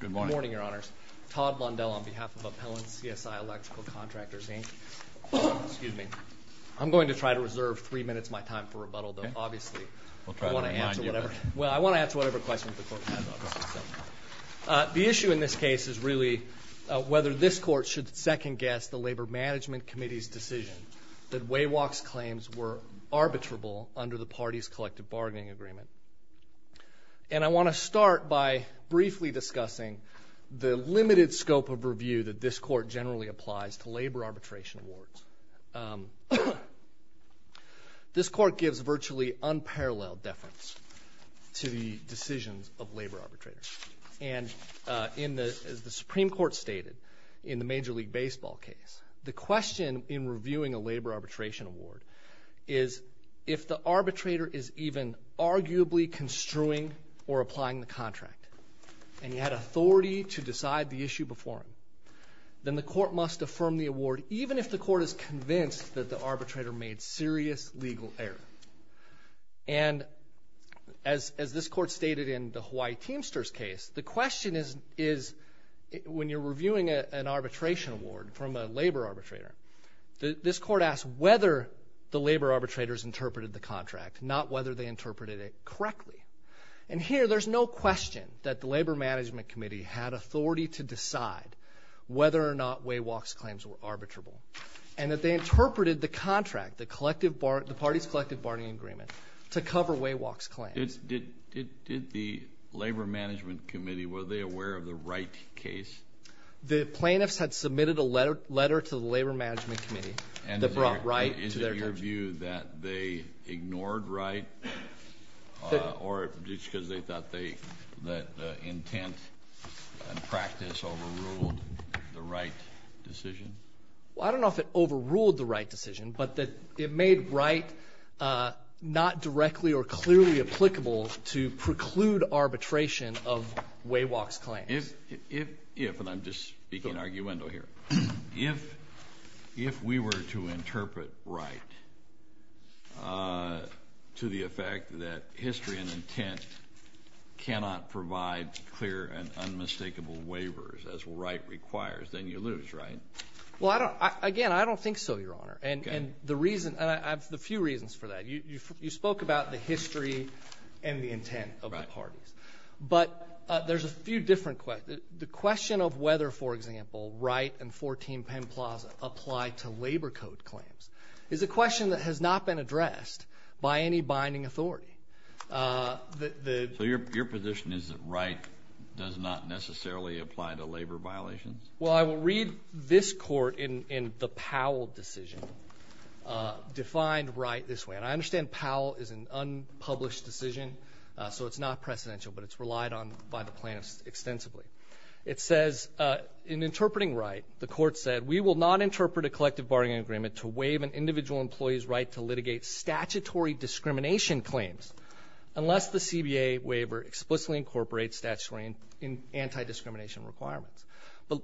Good morning, Your Honors. Todd Blondell on behalf of Appellant CSI Electrical Contractors Inc. I'm going to try to reserve three minutes of my time for rebuttal, but obviously I want to answer whatever questions the Court has. The issue in this case is really whether this Court should second-guess the Labor Management Committee's decision that Wawock's claims were arbitrable under the party's collective bargaining agreement. And I want to start by briefly discussing the limited scope of review that this Court generally applies to labor arbitration awards. This Court gives virtually unparalleled deference to the decisions of labor arbitrators. And as the Supreme Court stated in the Major League Baseball case, the question in reviewing a labor arbitration award is if the arbitrator is even arguably construing or applying the contract and he had authority to decide the issue before him, then the Court must affirm the award even if the Court is convinced that the arbitrator made serious legal error. And as this Court stated in the Hawaii Teamsters case, the question is when you're reviewing an arbitration award from a labor arbitrator, this Court asks whether the labor arbitrators interpreted the contract, not whether they interpreted it correctly. And here there's no question that the Labor Management Committee had authority to decide whether or not Wawock's claims were arbitrable and that they interpreted the contract, the party's collective bargaining agreement, to cover Wawock's claims. Did the Labor Management Committee, were they aware of the right case? The plaintiffs had submitted a letter to the Labor Management Committee that brought right to their terms. And is it your view that they ignored right or just because they thought the intent and practice overruled the right decision? Well, I don't know if it overruled the right decision, but that it made right not directly or clearly applicable to preclude arbitration of Wawock's claims. If, and I'm just speaking arguendo here, if we were to interpret right to the effect that history and intent cannot provide clear and unmistakable waivers as right requires, then you lose, right? Well, again, I don't think so, Your Honor. And the reason, and I have a few reasons for that. You spoke about the history and the intent of the parties. But there's a few different questions. The question of whether, for example, Wright and 14 Penn Plaza apply to labor code claims is a question that has not been addressed by any binding authority. So your position is that right does not necessarily apply to labor violations? Well, I will read this court in the Powell decision defined right this way. And I understand Powell is an unpublished decision, so it's not precedential, but it's relied on by the plaintiffs extensively. It says, in interpreting right, the court said, we will not interpret a collective bargaining agreement to waive an individual employee's right to litigate statutory discrimination claims unless the CBA waiver explicitly incorporates statutory anti-discrimination requirements. But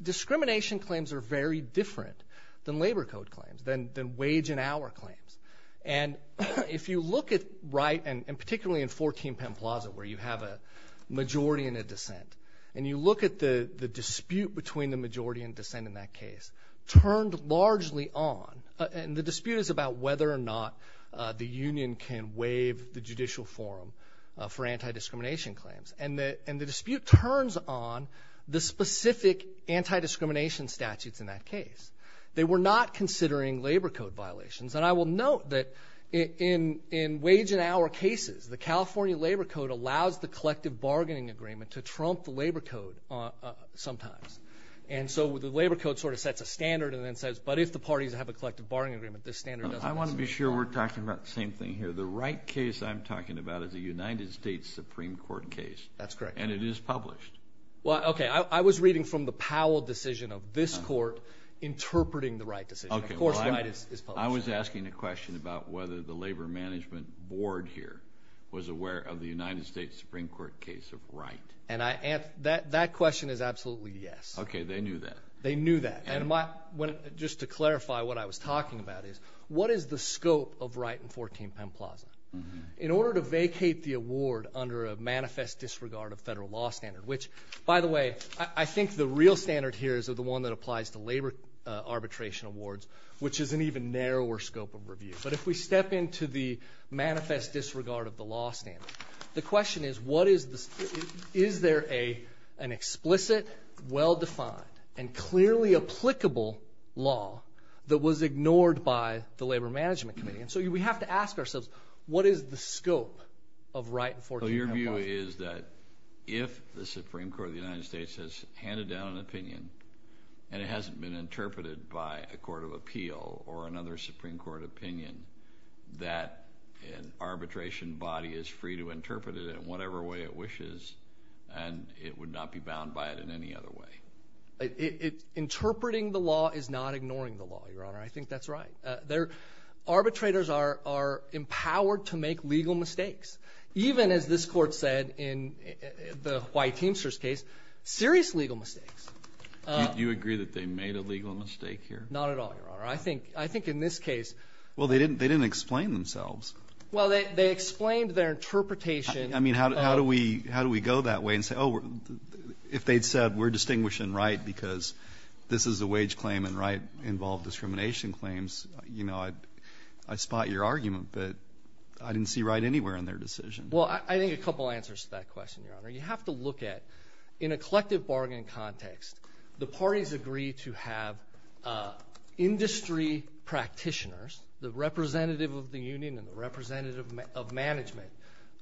discrimination claims are very different than labor code claims, than wage and hour claims. And if you look at Wright, and particularly in 14 Penn Plaza where you have a majority and a dissent, and you look at the dispute between the majority and dissent in that case, turned largely on, and the dispute is about whether or not the union can waive the judicial forum for anti-discrimination claims. And the dispute turns on the specific anti-discrimination statutes in that case. They were not considering labor code violations. And I will note that in wage and hour cases, the California labor code allows the collective bargaining agreement to trump the labor code sometimes. And so the labor code sort of sets a standard and then says, but if the parties have a collective bargaining agreement, this standard doesn't exist. I want to be sure we're talking about the same thing here. The Wright case I'm talking about is a United States Supreme Court case. That's correct. And it is published. Well, okay. I was reading from the Powell decision of this court interpreting the Wright decision. Of course, Wright is published. I was asking a question about whether the labor management board here was aware of the United States Supreme Court case of Wright. And that question is absolutely yes. Okay. They knew that. They knew that. Just to clarify what I was talking about is, what is the scope of Wright and 14 Penn Plaza? In order to vacate the award under a manifest disregard of federal law standard, which, by the way, I think the real standard here is the one that applies to labor arbitration awards, which is an even narrower scope of review. But if we step into the manifest disregard of the law standard, the question is, is there an explicit, well-defined, and clearly applicable law that was ignored by the Labor Management Committee? And so we have to ask ourselves, what is the scope of Wright and 14 Penn Plaza? So your view is that if the Supreme Court of the United States has handed down an opinion and it hasn't been interpreted by a court of appeal or another Supreme Court opinion, that an arbitration body is free to interpret it in whatever way it wishes and it would not be bound by it in any other way? Interpreting the law is not ignoring the law, Your Honor. I think that's right. Arbitrators are empowered to make legal mistakes, even, as this court said in the White Teamsters case, serious legal mistakes. Do you agree that they made a legal mistake here? Not at all, Your Honor. I think in this case ---- Well, they didn't explain themselves. Well, they explained their interpretation. I mean, how do we go that way and say, oh, if they'd said we're distinguishing Wright because this is a wage claim and Wright involved discrimination claims, you know, I'd spot your argument. But I didn't see Wright anywhere in their decision. Well, I think a couple answers to that question, Your Honor. You have to look at, in a collective bargain context, the parties agree to have industry practitioners, the representative of the union and the representative of management,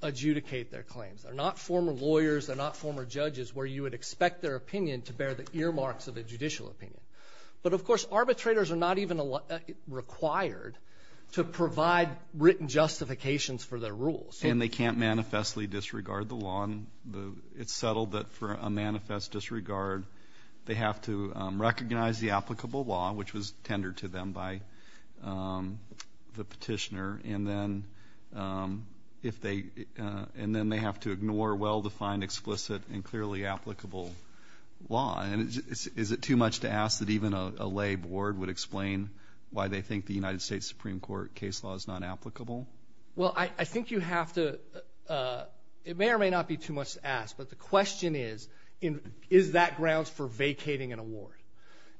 adjudicate their claims. They're not former lawyers. They're not former judges where you would expect their opinion to bear the earmarks of a judicial opinion. But, of course, arbitrators are not even required to provide written justifications for their rules. And they can't manifestly disregard the law. It's settled that for a manifest disregard, they have to recognize the applicable law, which was tendered to them by the petitioner, and then they have to ignore well-defined, explicit and clearly applicable law. And is it too much to ask that even a lay board would explain why they think the United States Supreme Court case law is not applicable? Well, I think you have to ‑‑ it may or may not be too much to ask, but the question is, is that grounds for vacating an award?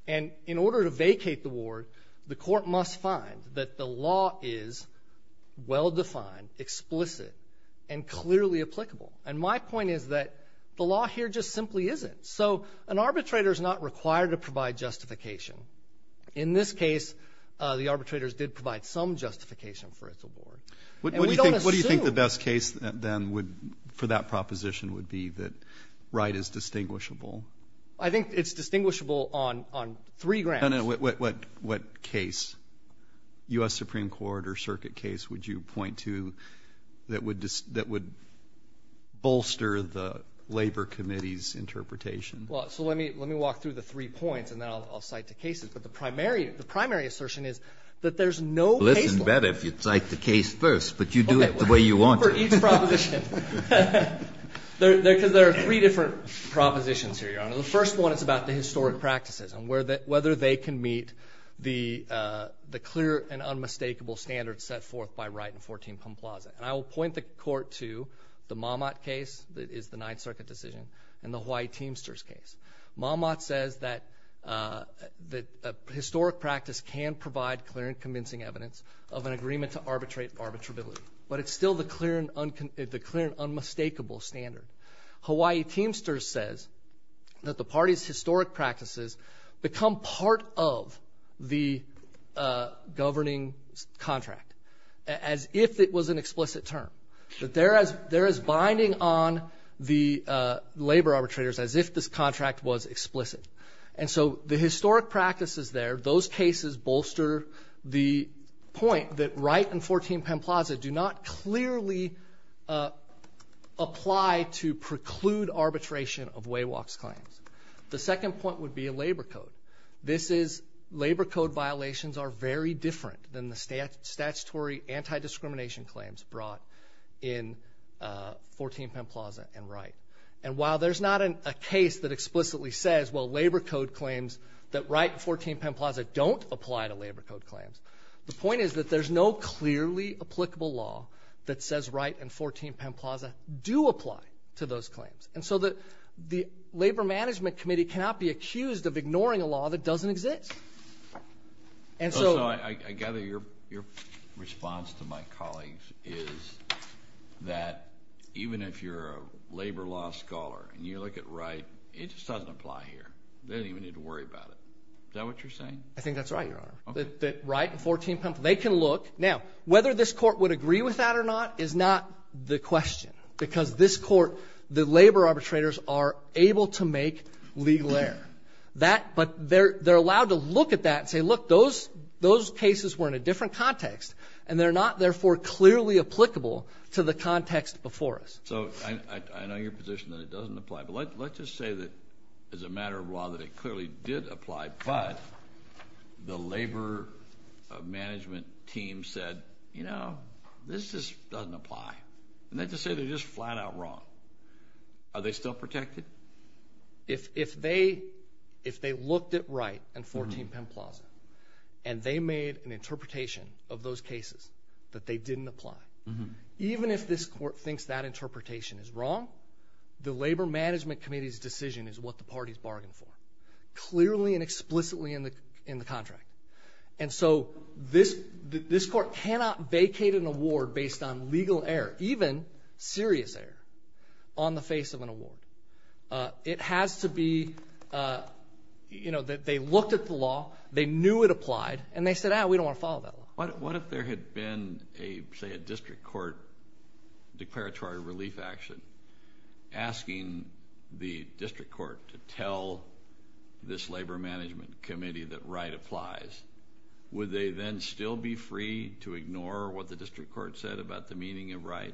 And in order to vacate the award, the court must find that the law is well-defined, explicit and clearly applicable. And my point is that the law here just simply isn't. So an arbitrator is not required to provide justification. In this case, the arbitrators did provide some justification for its award. And we don't assume ‑‑ What do you think the best case, then, would ‑‑ for that proposition would be that Wright is distinguishable? I think it's distinguishable on three grounds. What case, U.S. Supreme Court or circuit case, would you point to that would bolster the Labor Committee's interpretation? Well, so let me walk through the three points, and then I'll cite the cases. But the primary assertion is that there's no case law. Well, this is better if you cite the case first, but you do it the way you want to. For each proposition. Because there are three different propositions here, Your Honor. The first one is about the historic practices and whether they can meet the clear and unmistakable standards set forth by Wright and 14 Pumplaza. And I will point the court to the Mammott case that is the Ninth Circuit decision and the Hawaii Teamsters case. Mammott says that historic practice can provide clear and convincing evidence of an agreement to arbitrate arbitrability. But it's still the clear and unmistakable standard. Hawaii Teamsters says that the party's historic practices become part of the governing contract. As if it was an explicit term. That there is binding on the labor arbitrators as if this contract was explicit. And so the historic practices there, those cases bolster the point that Wright and 14 Pumplaza do not clearly apply to preclude arbitration of Waywalk's claims. The second point would be a labor code. This is labor code violations are very different than the statutory anti-discrimination claims brought in 14 Pumplaza and Wright. And while there's not a case that explicitly says, well, labor code claims that Wright and 14 Pumplaza don't apply to labor code claims, the point is that there's no clearly applicable law that says Wright and 14 Pumplaza do apply to those claims. And so the Labor Management Committee cannot be accused of ignoring a law that doesn't exist. I gather your response to my colleagues is that even if you're a labor law scholar and you look at Wright, it just doesn't apply here. They don't even need to worry about it. Is that what you're saying? I think that's right, Your Honor. That Wright and 14 Pumplaza, they can look. Now, whether this court would agree with that or not is not the question. Because this court, the labor arbitrators are able to make legal error. But they're allowed to look at that and say, look, those cases were in a different context. And they're not, therefore, clearly applicable to the context before us. So I know your position that it doesn't apply. But let's just say that as a matter of law that it clearly did apply, but the labor management team said, you know, this just doesn't apply. And that's to say they're just flat out wrong. Are they still protected? If they looked at Wright and 14 Pumplaza and they made an interpretation of those cases that they didn't apply, even if this court thinks that interpretation is wrong, the Labor Management Committee's decision is what the parties bargained for, clearly and explicitly in the contract. And so this court cannot vacate an award based on legal error, even serious error, on the face of an award. It has to be, you know, that they looked at the law, they knew it applied, and they said, ah, we don't want to follow that law. What if there had been, say, a district court declaratory relief action asking the district court to tell this Labor Management Committee that Wright applies? Would they then still be free to ignore what the district court said about the meaning of Wright?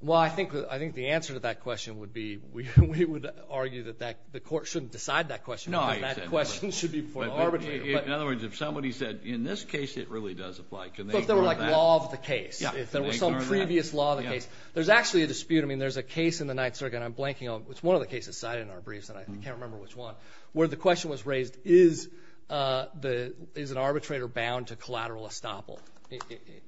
Well, I think the answer to that question would be we would argue that the court shouldn't decide that question. That question should be before the arbitrator. In other words, if somebody said, in this case it really does apply, can they ignore that? But if there were, like, law of the case, if there was some previous law of the case. There's actually a dispute. I mean, there's a case in the Ninth Circuit, and I'm blanking on it. It's one of the cases cited in our briefs, and I can't remember which one, where the question was raised, is an arbitrator bound to collateral estoppel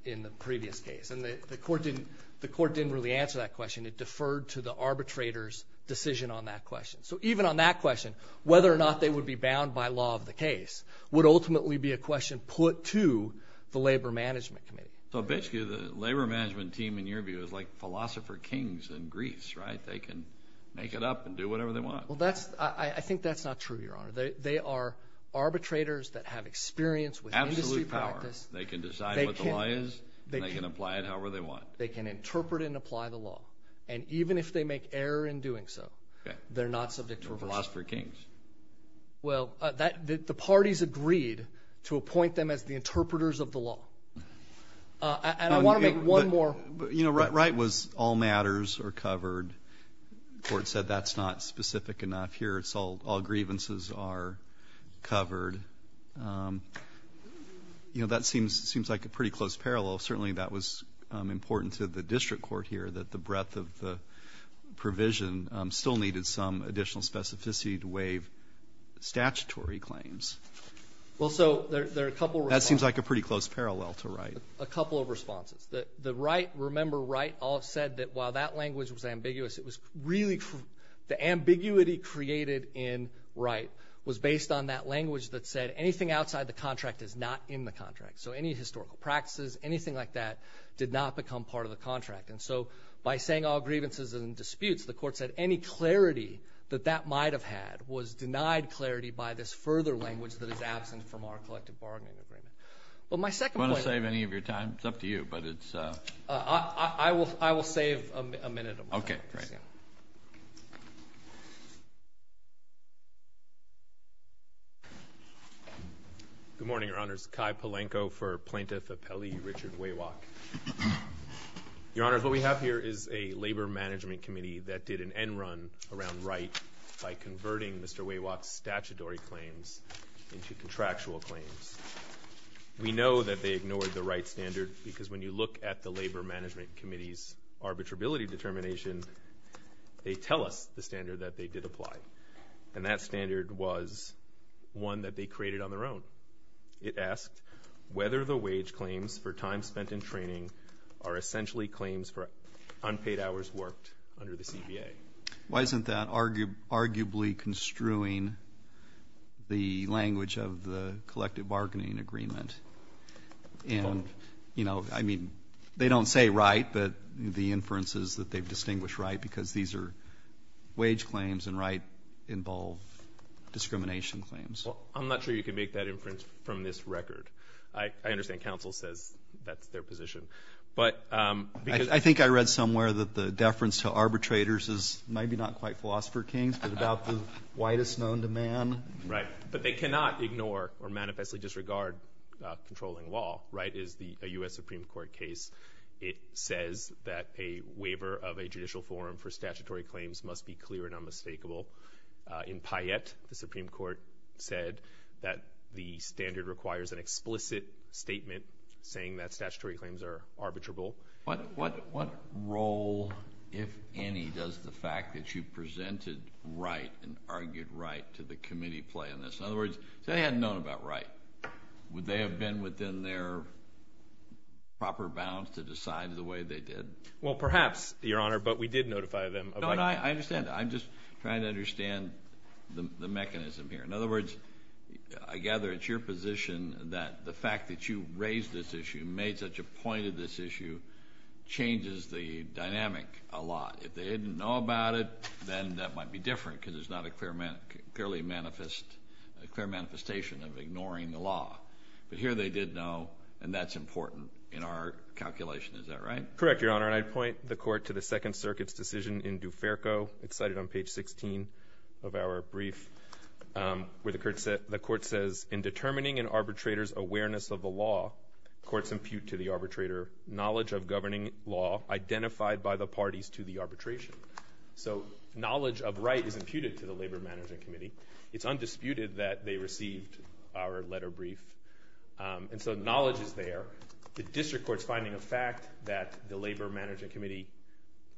in the previous case? And the court didn't really answer that question. It deferred to the arbitrator's decision on that question. So even on that question, whether or not they would be bound by law of the case would ultimately be a question put to the Labor Management Committee. So basically the Labor Management team, in your view, is like philosopher kings in Greece, right? They can make it up and do whatever they want. Well, I think that's not true, Your Honor. They are arbitrators that have experience with industry practice. Absolute power. They can decide what the law is, and they can apply it however they want. They can interpret and apply the law. And even if they make error in doing so, they're not subject to reversal. Okay. They're philosopher kings. Well, the parties agreed to appoint them as the interpreters of the law. And I want to make one more. You know, Wright was all matters are covered. The court said that's not specific enough here. It's all grievances are covered. You know, that seems like a pretty close parallel. Certainly that was important to the district court here, that the breadth of the provision still needed some additional specificity to waive statutory claims. Well, so there are a couple of responses. That seems like a pretty close parallel to Wright. A couple of responses. The Wright, remember Wright, all said that while that language was ambiguous, it was really the ambiguity created in Wright was based on that language that said anything outside the contract is not in the contract. So any historical practices, anything like that did not become part of the contract. And so by saying all grievances and disputes, the court said any clarity that that might have had was denied clarity by this further language that is absent from our collective bargaining agreement. Well, my second point. Do you want to save any of your time? It's up to you, but it's. I will save a minute of my time. Okay, great. Good morning, Your Honors. Kai Polenko for Plaintiff Appellee Richard Waywalk. Your Honors, what we have here is a labor management committee that did an end run around Wright by converting Mr. Waywalk's statutory claims into contractual claims. We know that they ignored the Wright standard because when you look at the labor management committee's arbitrability determination, they tell us the standard that they did apply. And that standard was one that they created on their own. It asked whether the wage claims for time spent in training are essentially claims for unpaid hours worked under the CBA. Why isn't that arguably construing the language of the collective bargaining agreement? And, you know, I mean, they don't say Wright, but the inference is that they've distinguished Wright because these are wage claims and Wright involve discrimination claims. Well, I'm not sure you can make that inference from this record. I understand counsel says that's their position. I think I read somewhere that the deference to arbitrators is maybe not quite philosopher kings, but about the whitest known to man. Right. But they cannot ignore or manifestly disregard controlling law. Wright is a U.S. Supreme Court case. It says that a waiver of a judicial forum for statutory claims must be clear and unmistakable. In Payette, the Supreme Court said that the standard requires an explicit statement saying that statutory claims are arbitrable. What role, if any, does the fact that you presented Wright and argued Wright to the committee play in this? In other words, if they hadn't known about Wright, would they have been within their proper bounds to decide the way they did? Well, perhaps, Your Honor, but we did notify them. No, no, I understand. I'm just trying to understand the mechanism here. In other words, I gather it's your position that the fact that you raised this issue, made such a point of this issue, changes the dynamic a lot. If they didn't know about it, then that might be different, because there's not a clear manifestation of ignoring the law. But here they did know, and that's important in our calculation. Is that right? Correct, Your Honor. Your Honor, I'd point the court to the Second Circuit's decision in Duferco. It's cited on page 16 of our brief, where the court says, in determining an arbitrator's awareness of the law, courts impute to the arbitrator knowledge of governing law identified by the parties to the arbitration. So knowledge of Wright is imputed to the Labor Management Committee. It's undisputed that they received our letter brief. And so knowledge is there. The district court's finding of fact that the Labor Management Committee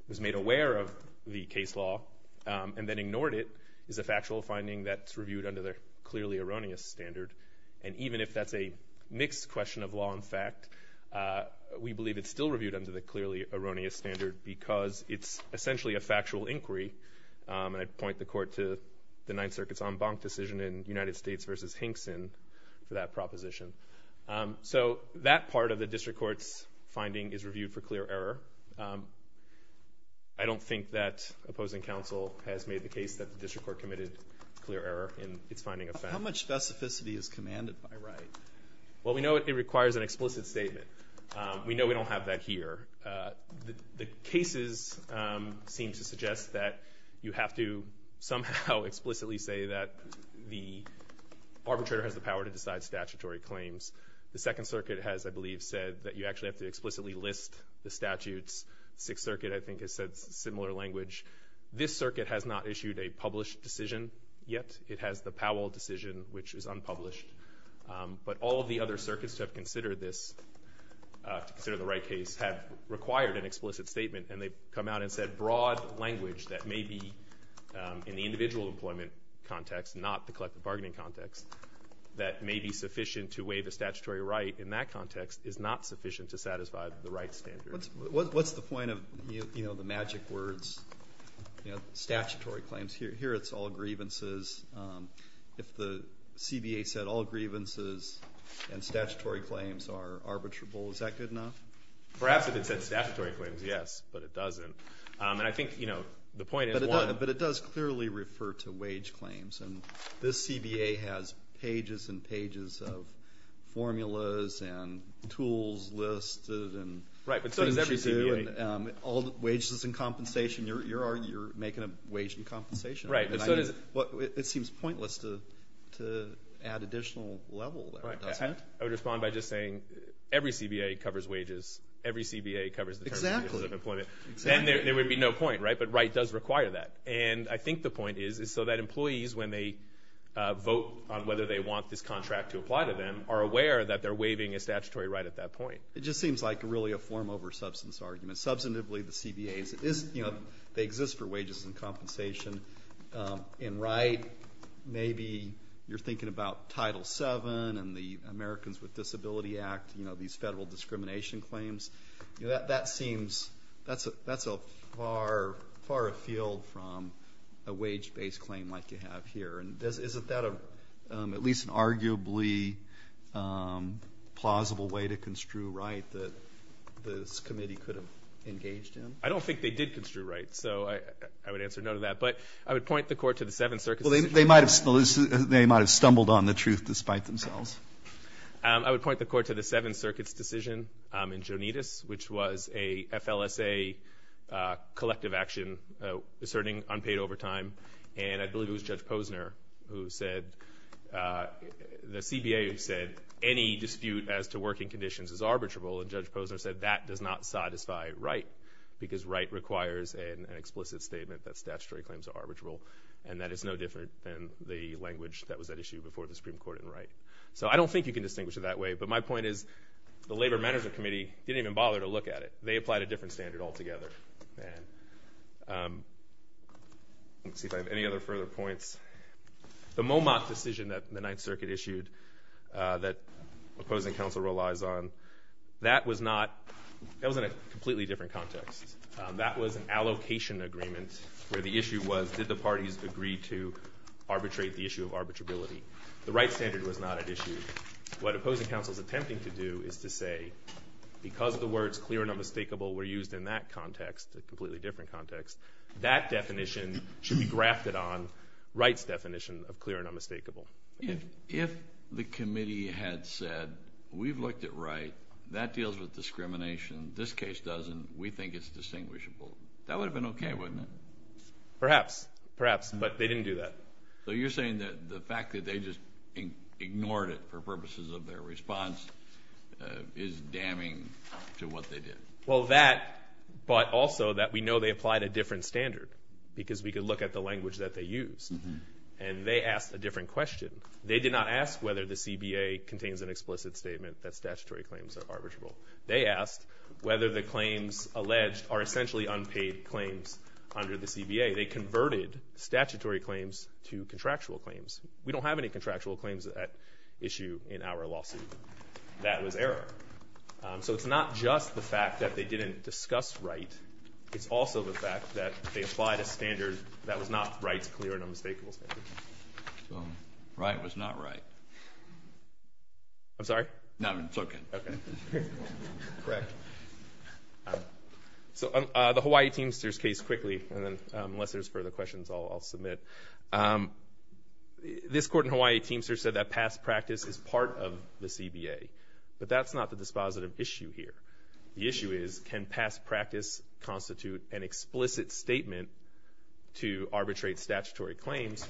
was made aware of the case law and then ignored it is a factual finding that's reviewed under the clearly erroneous standard. And even if that's a mixed question of law and fact, we believe it's still reviewed under the clearly erroneous standard because it's essentially a factual inquiry. And I'd point the court to the Ninth Circuit's en banc decision in United States v. Hinkson for that proposition. So that part of the district court's finding is reviewed for clear error. I don't think that opposing counsel has made the case that the district court committed clear error in its finding of fact. How much specificity is commanded by Wright? Well, we know it requires an explicit statement. We know we don't have that here. The cases seem to suggest that you have to somehow explicitly say that the arbitrator has the power to decide statutory claims. The Second Circuit has, I believe, said that you actually have to explicitly list the statutes. Sixth Circuit, I think, has said similar language. This circuit has not issued a published decision yet. It has the Powell decision, which is unpublished. But all of the other circuits to have considered this, to consider the Wright case, have required an explicit statement. And they've come out and said broad language that may be in the individual employment context, not the collective bargaining context, that may be sufficient to waive a statutory right in that context, is not sufficient to satisfy the Wright standard. What's the point of, you know, the magic words, you know, statutory claims? Here it's all grievances. If the CBA said all grievances and statutory claims are arbitrable, is that good enough? Perhaps if it said statutory claims, yes. But it doesn't. And I think, you know, the point is one. But it does clearly refer to wage claims. And this CBA has pages and pages of formulas and tools listed and things to do. Right, but so does every CBA. And all the wages and compensation. You're making a wage and compensation argument. It seems pointless to add additional level there, doesn't it? I would respond by just saying every CBA covers wages. Every CBA covers the terms and conditions of employment. Exactly. Then there would be no point, right? But Wright does require that. And I think the point is so that employees, when they vote on whether they want this contract to apply to them, are aware that they're waiving a statutory right at that point. It just seems like really a form over substance argument. Substantively, the CBAs, you know, they exist for wages and compensation. In Wright, maybe you're thinking about Title VII and the Americans with Disability Act, you know, these federal discrimination claims. You know, that seems that's a far, far afield from a wage-based claim like you have here. And isn't that at least an arguably plausible way to construe Wright that this committee could have engaged in? I don't think they did construe Wright, so I would answer no to that. But I would point the Court to the Seventh Circuit's decision. Well, they might have stumbled on the truth despite themselves. I would point the Court to the Seventh Circuit's decision in Jonitas, which was a FLSA collective action asserting unpaid overtime. And I believe it was Judge Posner who said the CBA said any dispute as to working conditions is arbitrable. And Judge Posner said that does not satisfy Wright because Wright requires an explicit statement that statutory claims are arbitrable. And that is no different than the language that was at issue before the Supreme Court in Wright. So I don't think you can distinguish it that way. But my point is the Labor Management Committee didn't even bother to look at it. They applied a different standard altogether. Let's see if I have any other further points. The Monmouth decision that the Ninth Circuit issued that opposing counsel relies on, that was in a completely different context. That was an allocation agreement where the issue was did the parties agree to arbitrate the issue of arbitrability. The Wright standard was not at issue. What opposing counsel is attempting to do is to say because the words clear and unmistakable were used in that context, a completely different context, that definition should be grafted on Wright's definition of clear and unmistakable. If the committee had said we've looked at Wright, that deals with discrimination. This case doesn't. We think it's distinguishable. That would have been okay, wouldn't it? Perhaps. Perhaps. But they didn't do that. So you're saying that the fact that they just ignored it for purposes of their response is damning to what they did? Well, that, but also that we know they applied a different standard because we could look at the language that they used. And they asked a different question. They did not ask whether the CBA contains an explicit statement that statutory claims are arbitrable. They asked whether the claims alleged are essentially unpaid claims under the CBA. They converted statutory claims to contractual claims. We don't have any contractual claims at issue in our lawsuit. That was error. So it's not just the fact that they didn't discuss Wright. It's also the fact that they applied a standard that was not Wright's clear and unmistakable standard. So Wright was not Wright. I'm sorry? No, I'm joking. Okay. Correct. So the Hawaii Teamsters case quickly, and then unless there's further questions, I'll submit. This court in Hawaii Teamsters said that past practice is part of the CBA. But that's not the dispositive issue here. The issue is can past practice constitute an explicit statement to arbitrate statutory claims?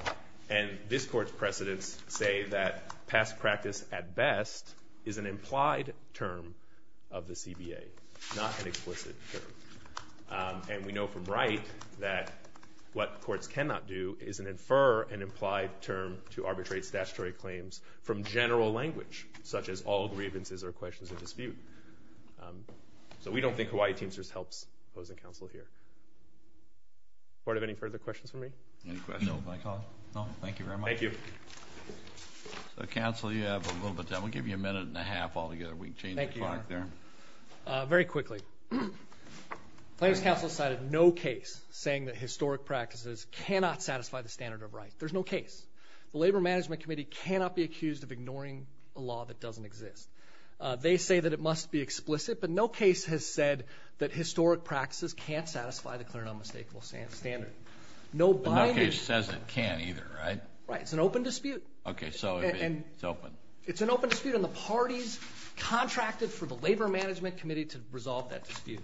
And this court's precedents say that past practice at best is an implied term of the CBA, not an explicit term. And we know from Wright that what courts cannot do is infer an implied term to arbitrate statutory claims from general language, such as all grievances or questions of dispute. So we don't think Hawaii Teamsters helps opposing counsel here. Court, any further questions for me? No. Thank you very much. Thank you. So, counsel, you have a little bit of time. We'll give you a minute and a half altogether. We can change the clock there. Thank you, Your Honor. Very quickly. Claims counsel cited no case saying that historic practices cannot satisfy the standard of Wright. There's no case. The Labor Management Committee cannot be accused of ignoring a law that doesn't exist. They say that it must be explicit, but no case has said that historic practices can't satisfy the clear and unmistakable standard. No case says it can either, right? Right. It's an open dispute. Okay. So it's open. It's an open dispute, and the parties contracted for the Labor Management Committee to resolve that dispute.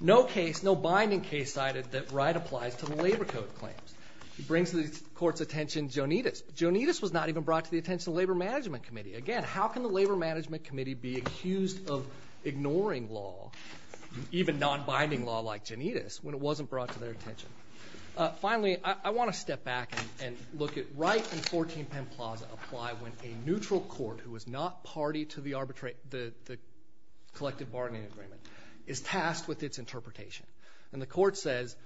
No case, no binding case cited that Wright applies to the labor code claims. It brings to the court's attention Jonitas. Jonitas was not even brought to the attention of the Labor Management Committee. Again, how can the Labor Management Committee be accused of ignoring law, even non-binding law like Jonitas, when it wasn't brought to their attention? Finally, I want to step back and look at Wright and 14 Penn Plaza apply when a neutral court, who is not party to the collective bargaining agreement, is tasked with its interpretation. And the court says,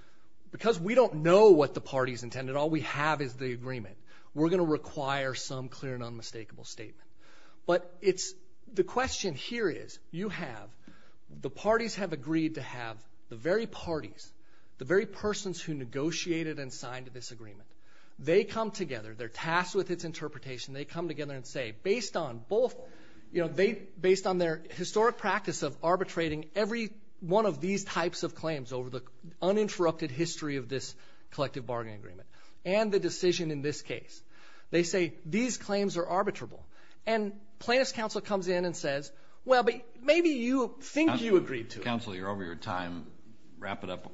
because we don't know what the party's intended, all we have is the agreement, we're going to require some clear and unmistakable statement. But the question here is, you have, the parties have agreed to have the very parties, the very persons who negotiated and signed this agreement, they come together, they're tasked with its interpretation, they come together and say, based on their historic practice of arbitrating every one of these types of claims over the uninterrupted history of this collective bargaining agreement and the decision in this case, they say, these claims are arbitrable. And plaintiff's counsel comes in and says, well, maybe you think you agreed to it. Counsel, you're over your time. Wrap it up.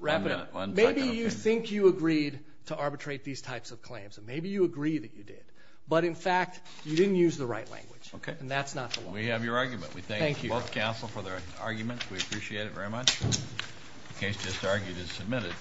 Maybe you think you agreed to arbitrate these types of claims. Maybe you agree that you did. But, in fact, you didn't use the right language. And that's not the law. We have your argument. We thank both counsel for their arguments. We appreciate it very much. The case just argued is submitted.